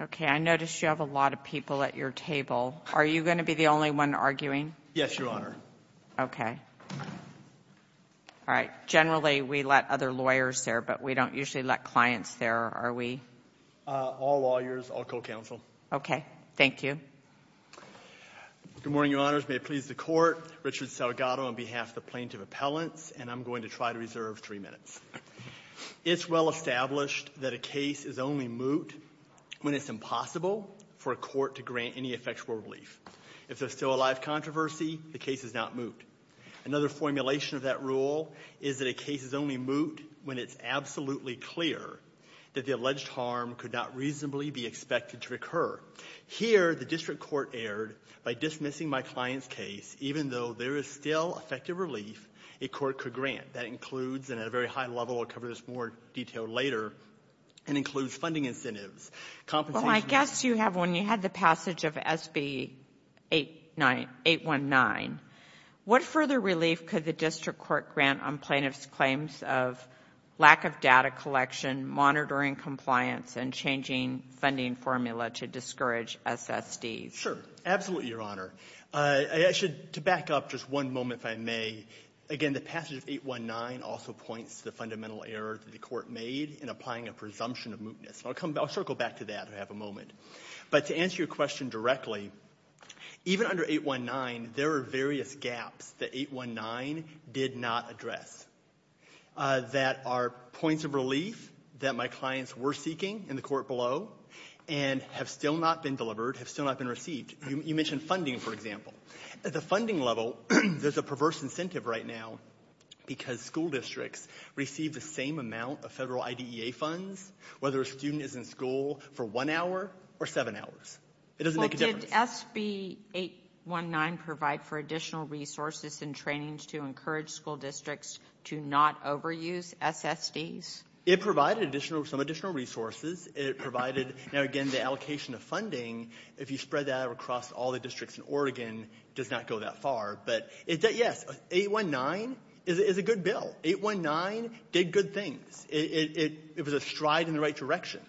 Okay. I noticed you have a lot of people at your table. Are you going to be the only one arguing? Yes, Your Honor. Okay. All right. Generally, we let other lawyers there, but we don't usually let clients there, are we? All lawyers, all co-counsel. Okay. Thank you. Good morning, Your Honors. May it please the Court. Richard Salgado on behalf of the Plaintiff Appellants, and I'm going to try to reserve three minutes. It's well established that a case is only moot when it's impossible for a court to grant any effectual relief. If there's still a live controversy, the case is not moot. Another formulation of that rule is that a case is only moot when it's absolutely clear that the alleged harm could not reasonably be expected to occur. Here, the district court erred by dismissing my client's case even though there is still effective relief a court could grant. That includes, and at a very high level, I'll cover this more detail later, and includes funding incentives, compensation Well, I guess you have one. You had the passage of SB 819. What further relief could the district court grant on plaintiff's claims of lack of data collection, monitoring compliance, and changing funding formula to discourage SSDs? Sure. Absolutely, Your Honor. I should, to back up just one moment, if I may, again, the passage of 819 also points to the fundamental error that the court made in applying a presumption of mootness. I'll circle back to that, if I have a moment. But to answer your question directly, even under 819, there are various gaps that 819 did not address that are points of relief that my clients were seeking in the court below and have still not been delivered, have still not been received. You mentioned funding, for example. At the funding level, there's a perverse incentive right now because school districts receive the same amount of federal IDEA funds whether a student is in school for one hour or seven hours. It doesn't make a difference. Well, did SB 819 provide for additional resources and trainings to encourage school districts to not overuse SSDs? It provided additional, some additional resources. It provided, now again, the allocation of funding. If you spread that out across all the districts in Oregon, it does not go that far. But, yes, 819 is a good bill. 819 did good things. It was a stride in the right direction.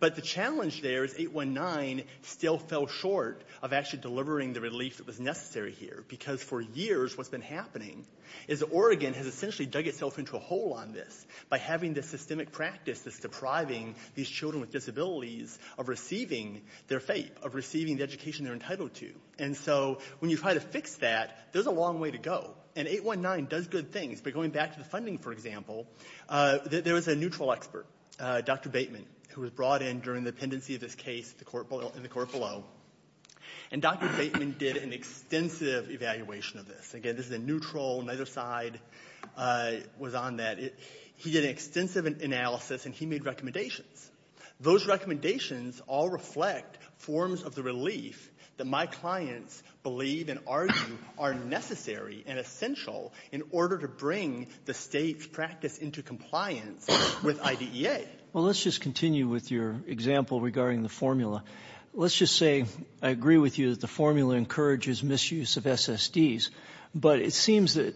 But the challenge there is 819 still fell short of actually delivering the relief that was necessary here. Because for years what's been happening is that Oregon has essentially dug itself into a hole on this by having this systemic practice that's depriving these children with disabilities of receiving their FAPE, of receiving the education they're entitled to. And so when you try to fix that, there's a long way to go. And 819 does good things. But going back to the funding, for example, there was a neutral expert, Dr. Bateman, who was brought in during the pendency of this case in the court below. And Dr. Bateman did an extensive evaluation of this. Again, this is a neutral, neither side was on that. He did an extensive analysis and he made recommendations. Those recommendations all reflect forms of the relief that my clients believe and argue are necessary and essential in order to bring the state's practice into compliance with IDEA. Well, let's just continue with your example regarding the formula. Let's just say I agree with you that the formula encourages misuse of SSDs. But it seems that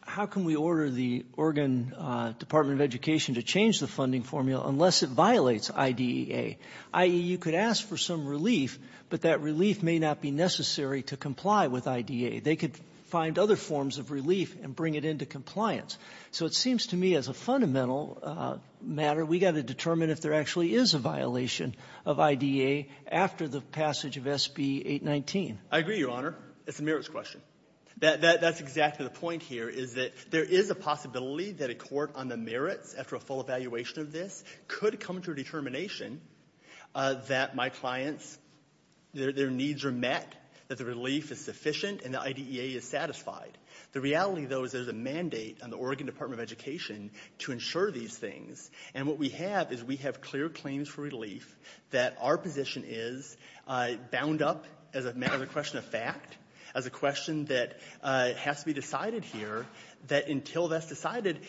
how can we order the Oregon Department of Education to change the funding formula unless it violates IDEA? I.e., you could ask for some relief, but that relief may not be necessary to comply with IDEA. They could find other forms of relief and bring it into compliance. So it seems to me as a fundamental matter, we've got to determine if there actually is a violation of IDEA after the passage of SB 819. I agree, Your Honor. It's a merits question. That's exactly the point here, is that there is a possibility that a court on the merits after a full evaluation of this could come to a determination that my clients, their needs are met, that the relief is sufficient, and the IDEA is satisfied. The reality, though, is there's a mandate on the Oregon Department of Education to ensure these things. And what we have is we have clear claims for relief that our position is bound up as a matter of question of fact, as a question that has to be decided here, that until that's decided,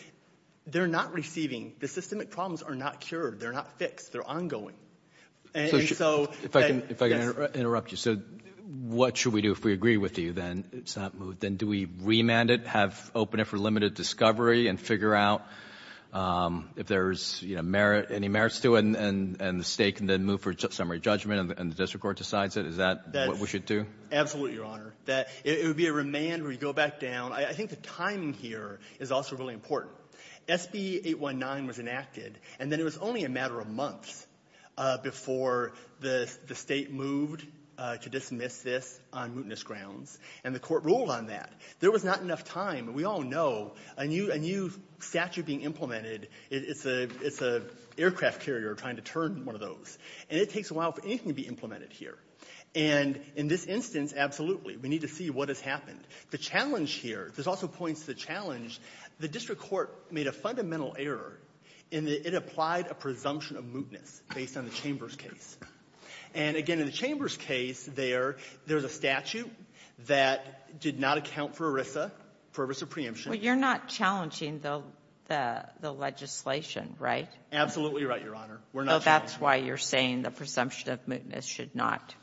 they're not receiving. The systemic problems are not cured. They're not fixed. They're ongoing. If I can interrupt you. So what should we do if we agree with you, then? It's not moved. Then do we remand it, have open it for limited discovery, and figure out if there's merit, any merits to it, and the State can then move for summary judgment, and the district court decides it? Is that what we should do? Absolutely, Your Honor. It would be a remand where you go back down. I think the timing here is also really important. SB 819 was enacted, and then it was only a matter of months before the State moved to dismiss this on mootness grounds. And the Court ruled on that. There was not enough time. We all know a new statute being implemented, it's an aircraft carrier trying to turn one of those. And it takes a while for anything to be implemented here. And in this instance, absolutely. We need to see what has happened. The challenge here, this also points to the challenge, the district court made a fundamental error in that it applied a presumption of mootness based on the Chambers case. And again, in the Chambers case there, there's a statute that did not account for ERISA, for ERISA preemption. But you're not challenging the legislation, right? Absolutely right, Your Honor. We're not challenging it. Oh, that's why you're saying the presumption of mootness should not apply?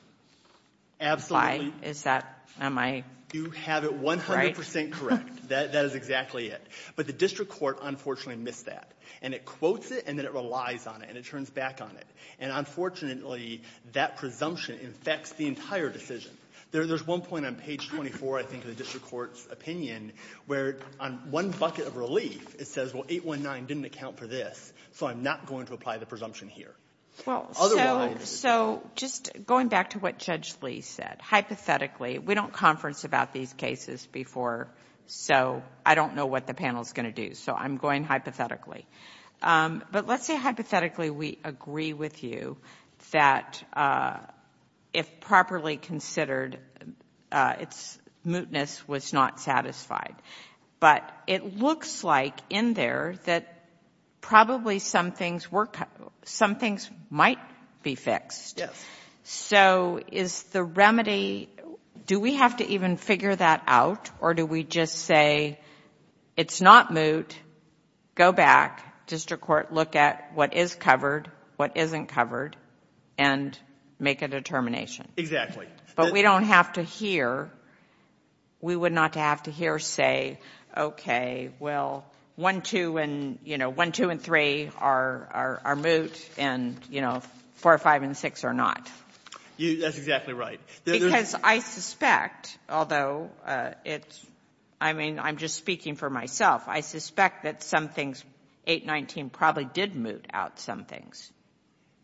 Absolutely. Is that my right? You have it 100 percent correct. That is exactly it. But the district court unfortunately missed that. And it quotes it, and then it relies on it, and it turns back on it. And unfortunately, that presumption infects the entire decision. There's one point on page 24, I think, in the district court's opinion, where on one bucket of relief it says, well, 819 didn't account for this, so I'm not going to apply the presumption here. Well, so just going back to what Judge Lee said, hypothetically, we don't conference about these cases before, so I don't know what the panel's going to do. So I'm going to say hypothetically. But let's say hypothetically we agree with you that if properly considered, its mootness was not satisfied. But it looks like in there that probably some things might be fixed. So is the remedy, do we have to even figure that out, or do we just say it's not moot, go back, district court, look at what is covered, what isn't covered, and make a determination? Exactly. But we don't have to hear, we would not have to hear say, okay, well, one, two, and, you know, one, two, and three are moot, and, you know, four, five, and six are not. That's exactly right. Because I suspect, although it's, I mean, I'm just speaking for myself, I suspect that some things, 819 probably did moot out some things.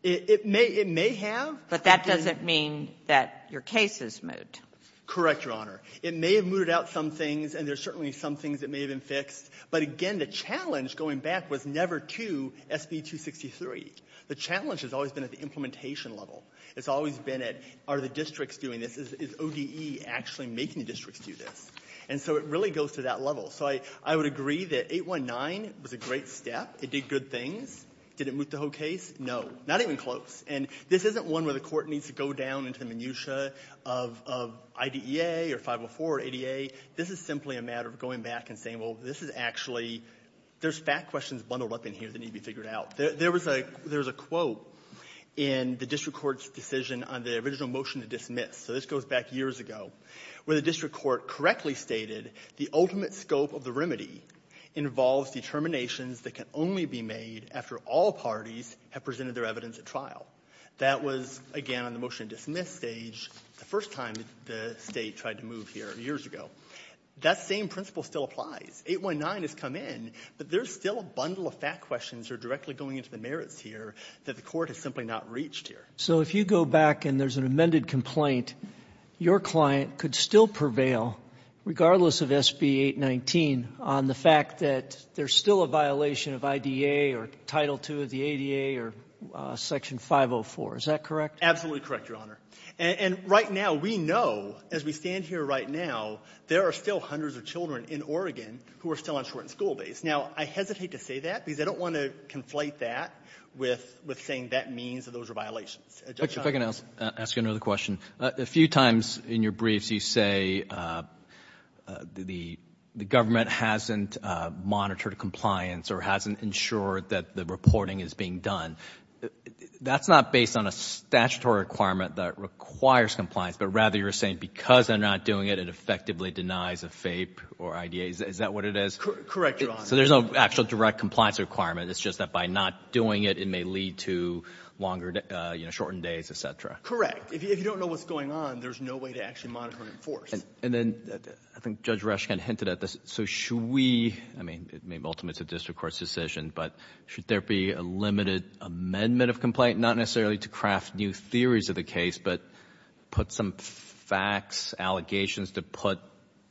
It may have. But that doesn't mean that your case is moot. Correct, Your Honor. It may have mooted out some things, and there's certainly some things that may have been fixed. But again, the challenge going back was never to SB 263. The challenge has always been at the implementation level. It's always been at are the districts doing this? Is ODE actually making the districts do this? And so it really goes to that level. So I would agree that 819 was a great step. It did good things. Did it moot the whole case? No. Not even close. And this isn't one where the court needs to go down into the minutiae of IDEA or 504 or ADA. This is simply a matter of going back and saying, well, this is actually, there's fact questions bundled up in here that need to be figured out. There was a quote in the district court's decision on the original motion to dismiss. So this goes back years ago, where the district court correctly stated, the ultimate scope of the remedy involves determinations that can only be made after all parties have presented their evidence at trial. That was, again, on the motion to dismiss stage the first time the state tried to move here years ago. That same principle still applies. 819 has come in, but there's still a bundle of fact questions that are directly going into the merits here that the court has simply not reached here. So if you go back and there's an amended complaint, your client could still prevail, regardless of SB 819, on the fact that there's still a violation of IDEA or Title II of the ADA or Section 504. Is that correct? Absolutely correct, Your Honor. And right now, we know, as we stand here right now, there are still hundreds of children in Oregon who are still on shortened school days. Now, I hesitate to say that because I don't want to conflate that with saying that means that those are violations. Judge, if I can ask you another question. A few times in your briefs, you say the government hasn't monitored compliance or hasn't ensured that the reporting is being done. That's not based on a statutory requirement that requires compliance, but rather you're saying that because they're not doing it, it effectively denies a FAPE or IDEA. Is that what it is? Correct, Your Honor. So there's no actual direct compliance requirement. It's just that by not doing it, it may lead to longer, shortened days, et cetera. Correct. If you don't know what's going on, there's no way to actually monitor and enforce. And then, I think Judge Resch kind of hinted at this. So should we, I mean, maybe ultimately it's a district court's decision, but should there be a limited amendment of complaint, not necessarily to craft new theories of the case, but put some facts, allegations to put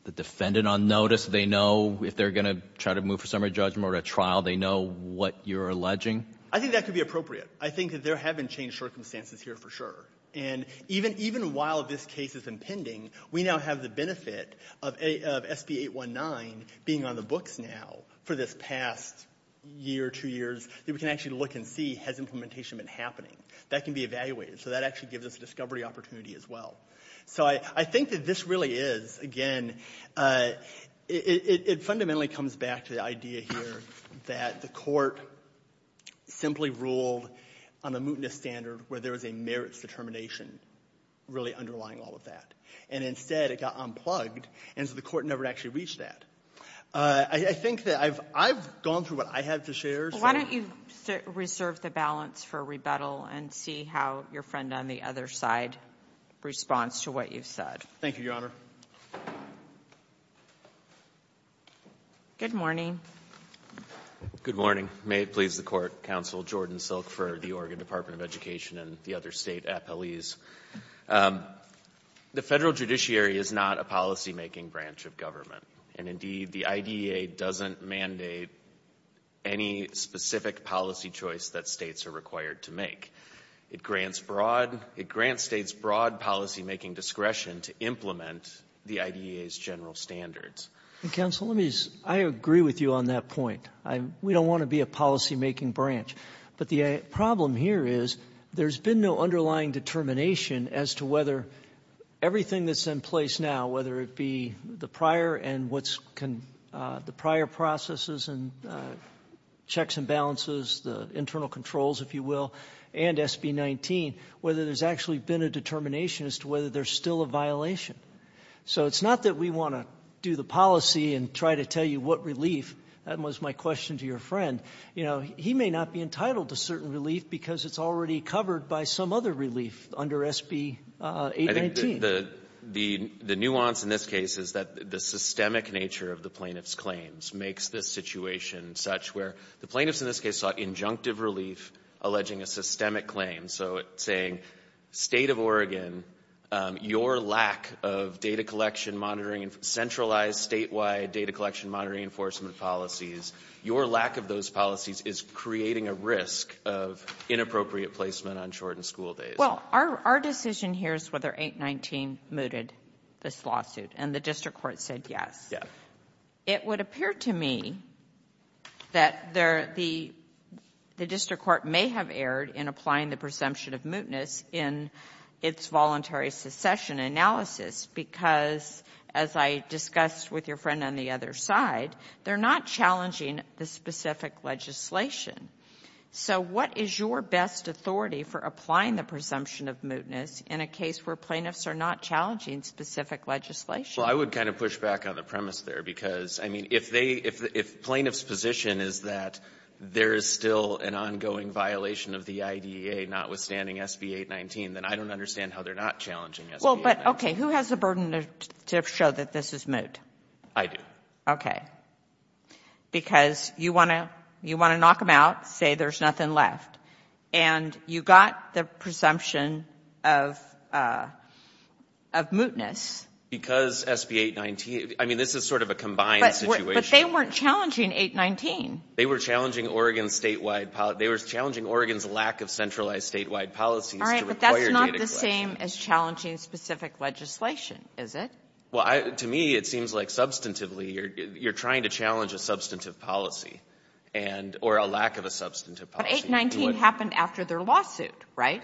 the defendant on notice, they know if they're going to try to move for summary judgment or a trial, they know what you're alleging? I think that could be appropriate. I think that there have been changed circumstances here for sure. And even while this case has been pending, we now have the benefit of SB 819 being on the books now for this past year, two years, that we can actually look and see has implementation been happening. That can be evaluated. So that actually gives us a discovery opportunity as well. So I think that this really is, again, it fundamentally comes back to the idea here that the court simply ruled on a mootness standard where there was a merits determination really underlying all of that. And instead, it got unplugged. And so the court never actually reached that. I think that I've gone through what I have to share. Well, why don't you reserve the balance for rebuttal and see how your friend on the other side responds to what you've said. Thank you, Your Honor. Good morning. Good morning. May it please the Court, Counsel Jordan Silk for the Oregon Department of Education and the other State Appellees. The Federal Judiciary is not a policymaking branch of government. And indeed, the IDEA doesn't mandate any specific policy choice that states are required to make. It grants broad, it grants states broad policymaking discretion to implement the IDEA's general standards. Counsel, let me just, I agree with you on that point. We don't want to be a policymaking branch. But the problem here is there's been no underlying determination as to whether everything that's in place now, whether it be the prior and what's, the prior processes and checks and balances, the internal controls, if you will, and SB 19, whether there's actually been a determination as to whether there's still a violation. So it's not that we want to do the policy and try to tell you what relief. That was my question to your friend. You know, he may not be entitled to certain relief because it's already covered by some other relief under SB 819. The nuance in this case is that the systemic nature of the plaintiff's claims makes this situation such where the plaintiffs in this case sought injunctive relief alleging a systemic claim. So it's saying, State of Oregon, your lack of data collection monitoring, centralized statewide data collection monitoring enforcement policies, your lack of those policies is creating a risk of inappropriate placement on shortened school days. Well, our decision here is whether 819 mooted this lawsuit and the district court said yes. It would appear to me that the district court may have erred in applying the presumption of mootness in its voluntary succession analysis because, as I discussed with your friend on the other side, they're not challenging the specific legislation. So what is your best authority for applying the presumption of mootness in a case where plaintiffs are not challenging specific legislation? Well, I would kind of push back on the premise there because, I mean, if plaintiff's position is that there is still an ongoing violation of the IDEA notwithstanding SB 819, then I don't understand how they're not challenging SB 819. Well, but, okay, who has the burden to show that this is moot? I do. Okay. Because you want to knock them out, say there's nothing left. And you got the presumption of mootness. Because SB 819, I mean, this is sort of a combined situation. But they weren't challenging 819. They were challenging Oregon's statewide... They were challenging Oregon's lack of centralized statewide policies to require data collection. All right, but that's not the same as challenging specific legislation, is it? Well, to me, it seems like substantively you're trying to challenge a substantive policy or a lack of a substantive policy. But 819 happened after their lawsuit, right?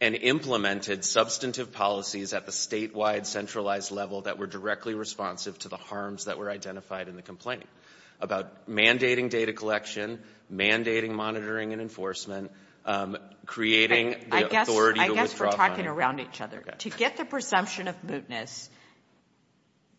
And implemented substantive policies at the statewide centralized level that were directly responsive to the harms that were identified in the complaint about mandating data collection, mandating monitoring and enforcement, creating the authority to withdraw funding. I guess we're talking around each other. To get the presumption of mootness,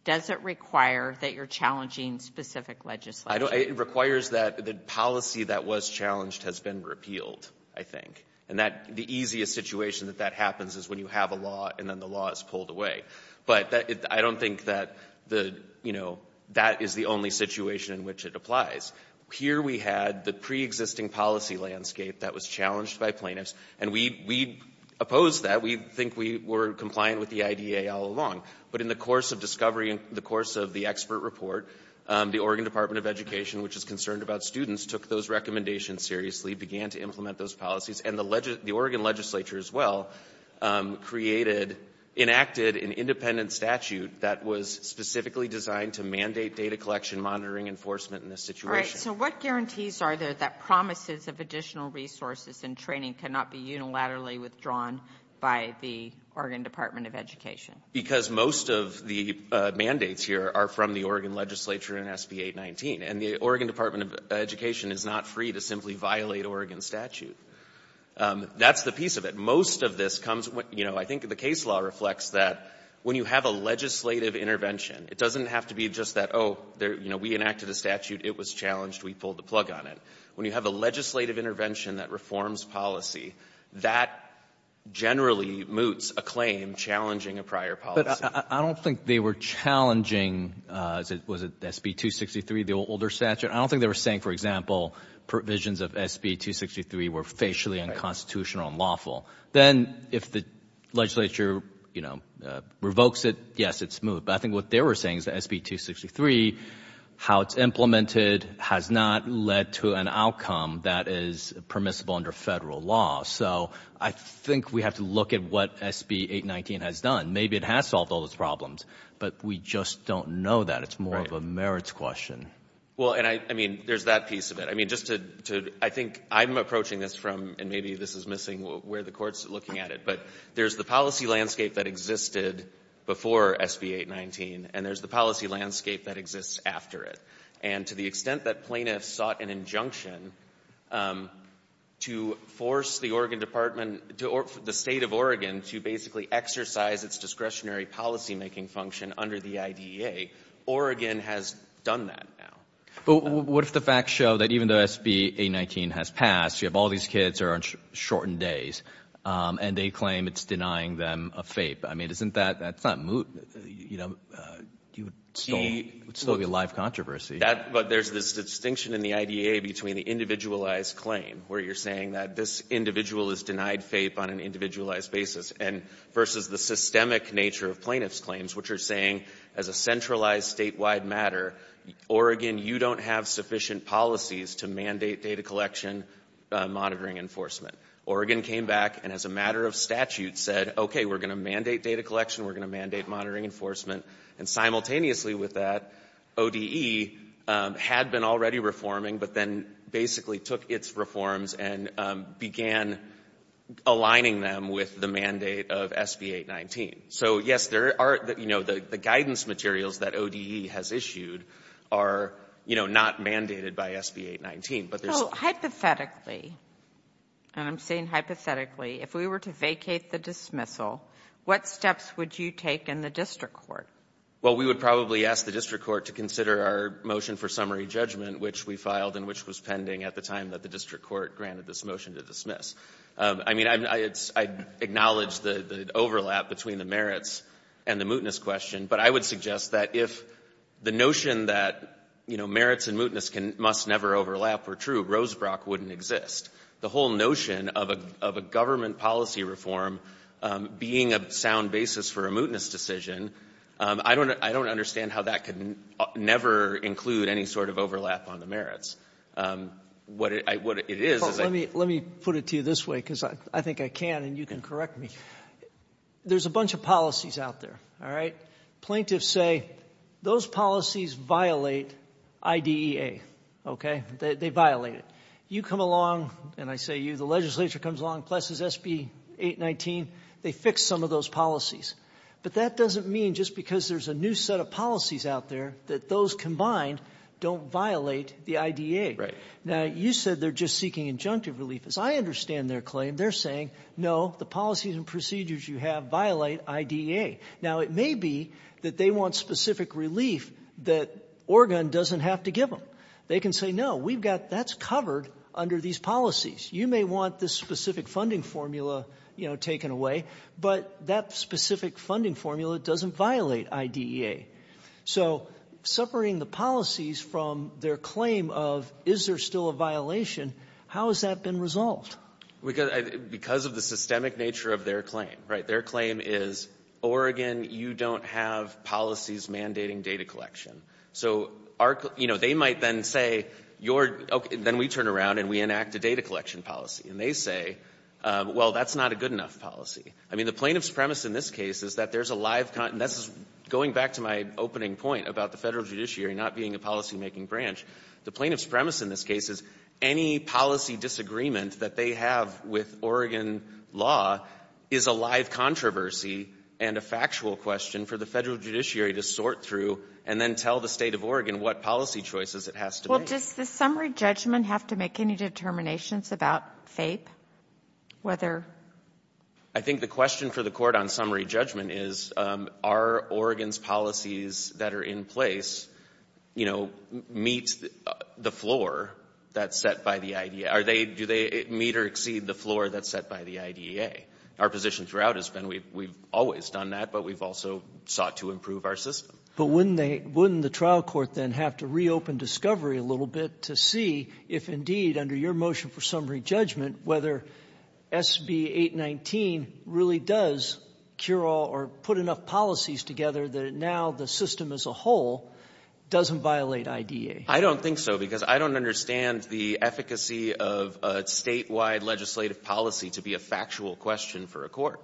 does it require that you're challenging specific legislation? It requires that the policy that was challenged has been repealed, I think. And the easiest situation that that happens is when you have a law and then the law is pulled away. But I don't think that, you know, that is the only situation in which it applies. Here we had the preexisting policy landscape that was challenged by plaintiffs, and we opposed that. We think we were compliant with the IDA all along. But in the course of discovery, in the course of the expert report, the Oregon Department of Education, which is concerned about students, took those recommendations seriously, began to implement those policies, and the Oregon legislature as well created, enacted an independent statute that was specifically designed to mandate data collection, monitoring, enforcement in this situation. All right, so what guarantees are there that promises of additional resources and training cannot be unilaterally withdrawn by the Oregon Department of Education? Because most of the mandates here are from the Oregon legislature and SB 819. And the Oregon Department of Education is not free to simply violate Oregon statute. That's the piece of it. Most of this comes, you know, I think the case law reflects that when you have a legislative intervention, it doesn't have to be just that, oh, you know, we enacted a statute, it was challenged, we pulled the plug on it. When you have a legislative intervention that reforms policy, that generally moots a claim challenging a prior policy. But I don't think they were challenging, was it SB 263, the older statute? I don't think they were saying, for example, provisions of SB 263 were facially unconstitutional and lawful. Then if the legislature, you know, revokes it, yes, it's moved. But I think what they were saying is that SB 263, how it's implemented has not led to an outcome that is permissible under Federal law. So I think we have to look at what SB 819 has done. Maybe it has solved all those problems, but we just don't know that. It's more of a merits question. Well, and I mean, there's that piece of it. I mean, just to, I think I'm approaching this from, and maybe this is missing where the Court's looking at it, but there's the policy landscape that existed before SB 819 and there's the policy landscape that exists after it. And to the extent that plaintiffs sought an injunction to force the Oregon Department, the State of Oregon, to basically exercise its discretionary policymaking function under the IDEA, Oregon has done that now. But what if the facts show that even though SB 819 has passed, you have all these kids who are on shortened days and they claim it's denying them a FAPE. I mean, isn't that, you know, it would still be a live controversy. But there's this distinction in the IDEA between the individualized claim where you're saying that this individual is denied FAPE on an individualized basis versus the systemic nature of plaintiff's claims, which are saying as a centralized, statewide matter, Oregon, you don't have sufficient policies to mandate data collection monitoring enforcement. Oregon came back and as a matter of statute said, okay, we're going to mandate data collection, we're going to mandate monitoring enforcement. And simultaneously with that, ODE had been already reforming, but then basically took its reforms and began aligning them with the mandate of SB 819. So, yes, there are, you know, the guidance materials that ODE has issued are, you know, not mandated by SB 819. But there's... So, hypothetically, and I'm saying hypothetically, if we were to vacate the dismissal, what steps would you take in the district court? Well, we would probably ask the district court to consider our motion for summary judgment, which we filed and which was pending at the time that the district court granted this motion to dismiss. I mean, I acknowledge the overlap between the merits and the mootness question, but I would suggest that if the notion that, you know, merits and mootness must never overlap were true, Rosebrock wouldn't exist. The whole notion of a government policy reform being a sound basis for a mootness decision, I don't understand how that could never include any sort of overlap on the merits. What it is... Let me put it to you this way, because I think I can, and you can correct me. There's a bunch of policies out there, all right? Plaintiffs say, those policies violate IDEA, okay? They violate it. You come along, and I say you, the legislature comes along, blesses SB 819, they fix some of those policies. But that doesn't mean, just because there's a new set of policies out there, that those combined don't violate the IDEA. Now, you said they're just seeking injunctive relief. As I understand their claim, they're saying, no, the policies and procedures you have violate IDEA. Now, it may be that they want specific relief that Oregon doesn't have to give them. They can say, no, that's covered under these policies. You may want this specific funding formula taken away, but that specific funding formula doesn't violate IDEA. So, separating the policies from their claim of, is there still a violation, how has that been resolved? Because of the systemic nature of their claim, right? Their claim is, Oregon, you don't have policies mandating data collection. So, they might then say, then we turn around and we enact a data collection policy. And they say, well, that's not a good enough policy. The plaintiff's premise in this case is that there's a live, and this is going back to my opening point about the Federal Judiciary not being a policymaking branch. The plaintiff's premise in this case is, any policy disagreement that they have with Oregon law is a live controversy and a factual question for the Federal Judiciary to sort through and then tell the State of Oregon what policy choices it has to make. Well, does the summary judgment have to make any determinations about FAPE? Whether I think the question for the Court on summary judgment is, are Oregon's policies that are in place, you know, meet the floor that's set by the IDEA? Are they, do they meet or exceed the floor that's set by the IDEA? Our position throughout has been we've always done that, but we've also sought to improve our system. But wouldn't they, wouldn't the trial court then have to reopen discovery a little bit to see if indeed, under your motion for summary judgment, whether SB 819 really does cure all or put enough policies together that now the system as a whole doesn't violate IDEA? I don't think so, because I don't understand the efficacy of a statewide legislative policy to be a factual question for a court.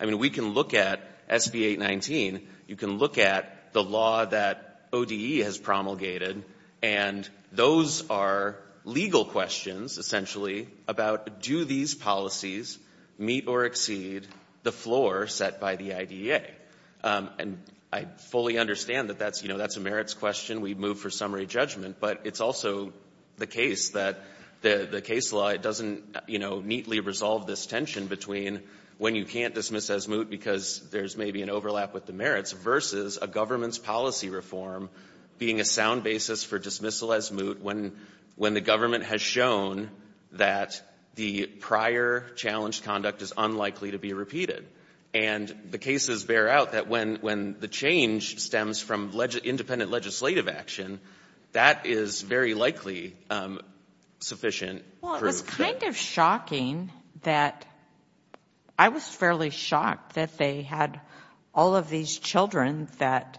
I mean, we can look at SB 819, you can look at the law that ODE has promulgated, and those are legal questions, essentially, about do these policies meet or exceed the floor set by the IDEA? And I fully understand that that's, you know, that's a merits question, we move for summary judgment, but it's also the case that the case law doesn't, you know, neatly resolve this tension between when you can't dismiss as moot because there's maybe an overlap with the merits, versus a government's policy reform being a sound basis for dismissal as moot when the government has shown that the prior challenged conduct is unlikely to be repeated. And the cases bear out that when the change stems from independent legislative action, that is very likely sufficient proof. Well, it was kind of shocking that, I was fairly shocked that they had all of these children that,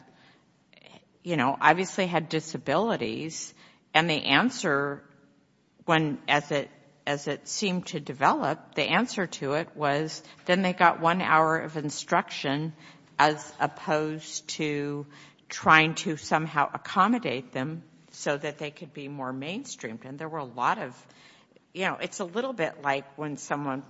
you know, obviously had disabilities and the answer when, as it seemed to develop, the answer to it was then they got one hour of instruction as opposed to trying to somehow accommodate them so that they could be more mainstreamed. And there were a lot of you know, it's a little bit like when someone,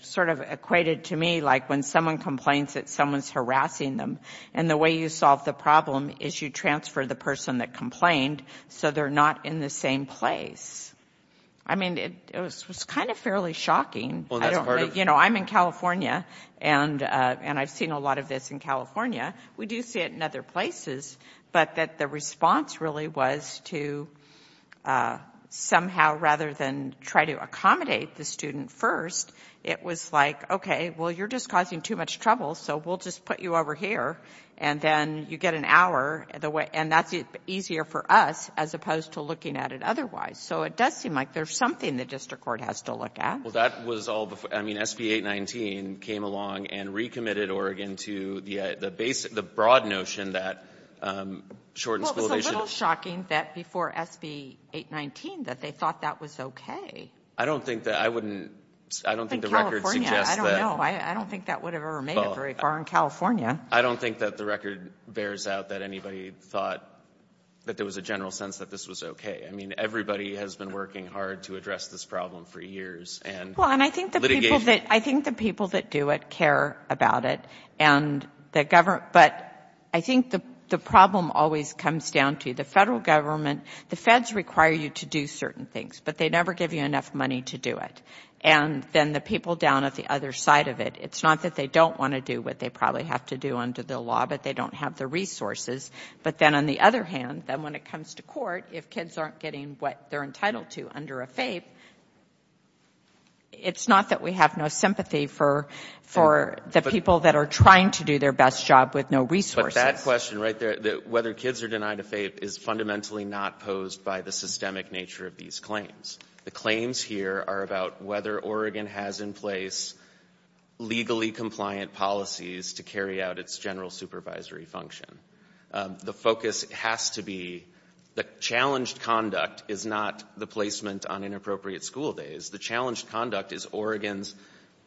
sort of equated to me, like when someone complains that someone's harassing them and the way you solve the problem is you transfer the person that complained so they're not in the same place. I mean, it was kind of fairly shocking. You know, I'm in California and I've seen a lot of this in California. We do see it in other places but that the response really was to somehow, rather than try to accommodate the student first it was like, okay well you're just causing too much trouble so we'll just put you over here and then you get an hour and that's easier for us as opposed to looking at it otherwise. So it does seem like there's something the district court has to look at. I mean, SB 819 came along and recommitted Oregon to the broad notion that shortened school days should Well, it was a little shocking that before SB 819 that they thought that was okay. I don't think that, I wouldn't I don't think the record suggests that I don't think that would have ever made it very far in California. I don't think that the record bears out that anybody thought that there was a general sense that this was okay. I mean, everybody has been working hard to address this problem for years and litigation I think the people that do it care about it and the government but I think the problem always comes down to the federal government. The feds require you to do certain things, but they never give you enough money to do it. And then the people down at the other side of it it's not that they don't want to do what they probably have to do under the law, but they don't have the resources. But then on the other hand, then when it comes to court, if kids aren't getting what they're entitled to under a FAPE it's not that we have no sympathy for the people that are trying to do their best job with no resources. But that question right there whether kids are denied a FAPE is fundamentally not posed by the systemic nature of these claims. The claims here are about whether Oregon has in place legally compliant policies to carry out its general supervisory function. The focus has to be the challenged conduct is not the placement on inappropriate school days. The challenged conduct is Oregon's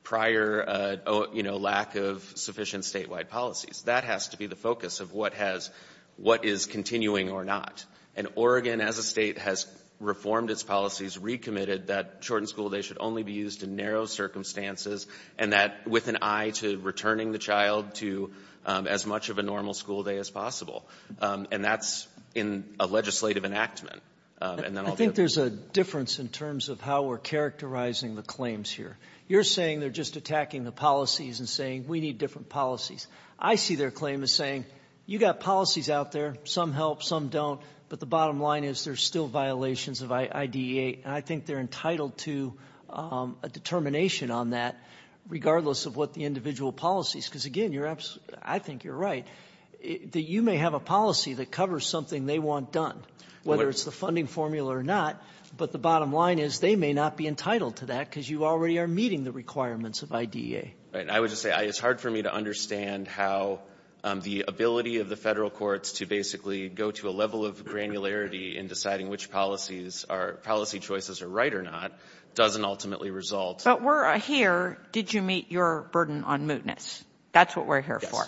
prior lack of sufficient statewide policies. That has to be the focus of what has, what is continuing or not. And Oregon as a state has reformed its policies, recommitted that shortened school days should only be used in narrow circumstances and that with an eye to returning the child to as much of a normal school day as possible. And that's in a legislative enactment. I think there's a difference in terms of how we're characterizing the claims here. You're saying they're just attacking the policies and saying we need different policies. I see their claim as saying you got policies out there. Some help, some don't. But the bottom line is there's still violations of IDEA and I think they're entitled to a determination on that regardless of what the individual policies. Because again, I think you're right. You may have a policy that covers something they want done. Whether it's the funding formula or not. But the bottom line is they may not be entitled to that because you already are meeting the requirements of IDEA. And I would just say it's hard for me to understand how the ability of the Federal courts to basically go to a level of granularity in deciding which policies are policy choices are right or not doesn't ultimately result. But we're here. Did you meet your burden on mootness? That's what we're here for.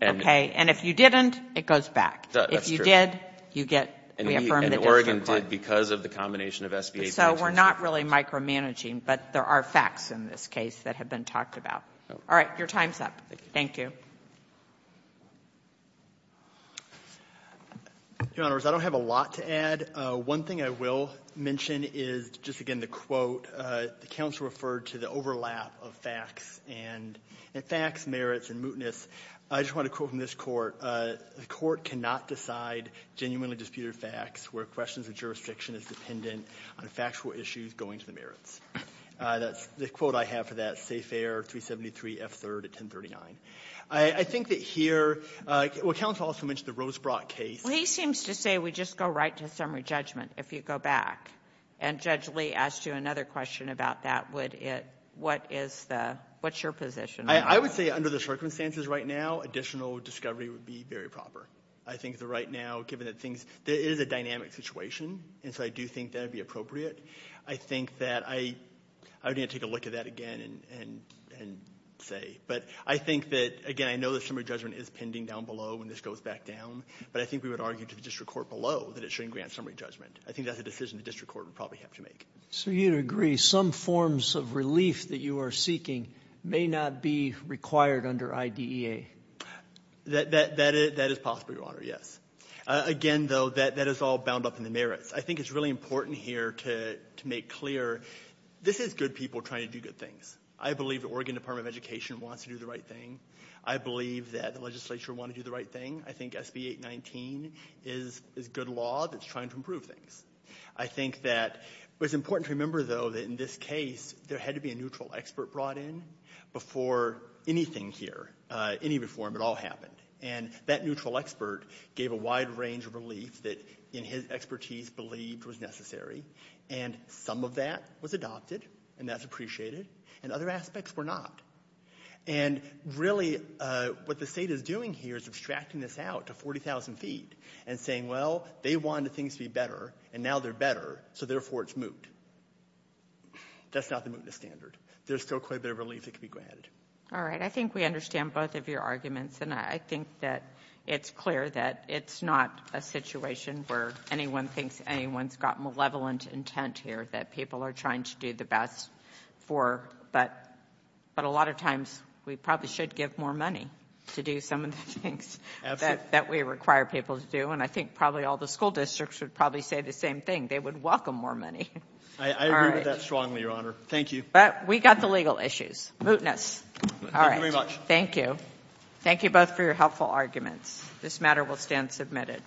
And if you didn't, it goes back. If you did, you get reaffirmed. And Oregon did because of the combination of SBA So we're not really micromanaging, but there are facts in this case that have been talked about. All right. Your time's up. Thank you. Your Honor, I don't have a lot to add. One thing I will mention is just again the quote the counsel referred to the overlap of facts and facts, merits, and mootness. I just want to quote from this court. The court cannot decide genuinely on disputed facts where questions of jurisdiction is dependent on factual issues going to the merits. The quote I have for that is Safe Air 373 F. 3rd at 1039. I think that here counsel also mentioned the Rosebrock case He seems to say we just go right to summary judgment if you go back. And Judge Lee asked you another question about that. What is the, what's your position? I would say under the circumstances right now additional discovery would be very proper. I think that right now given that things there is a dynamic situation and so I do think that would be appropriate. I think that I would need to take a look at that again and say. But I think that again I know that summary judgment is pending down below when this goes back down. But I think we would argue to the district court below that it shouldn't grant summary judgment. I think that's a decision the district court would probably have to make. So you'd agree some forms of relief that you are seeking may not be required under IDEA. That is possible, Your Honor, yes. Again though that is all bound up in the merits. I think it's really important here to make clear this is good people trying to do good things. I believe the Oregon Department of Education wants to do the right thing. I believe that the legislature want to do the right thing. I think SB 819 is good law that's trying to improve things. I think that it's important to remember though that in this case there had to be a neutral expert brought in before anything here, any reform at all happened. And that neutral expert gave a wide range of relief that in his expertise believed was necessary and some of that was adopted and that's appreciated and other aspects were not. And really what the state is doing here is abstracting this out to 40,000 feet and saying well they wanted things to be better and now they're better so therefore it's moot. That's not the mootness standard. There's still quite a bit of relief that can be granted. Alright, I think we understand both of your arguments and I think that it's clear that it's not a situation where anyone thinks anyone's got malevolent intent here that people are trying to do the best for but a lot of times we probably should give more money to do some of the things that we require people to do and I think probably all the school districts would probably say the same thing. They would welcome more money. I agree with that strongly, Your Honor. Thank you. We got the legal issues. Mootness. Thank you very much. Thank you. Thank you both for your helpful arguments. This matter will stand submitted.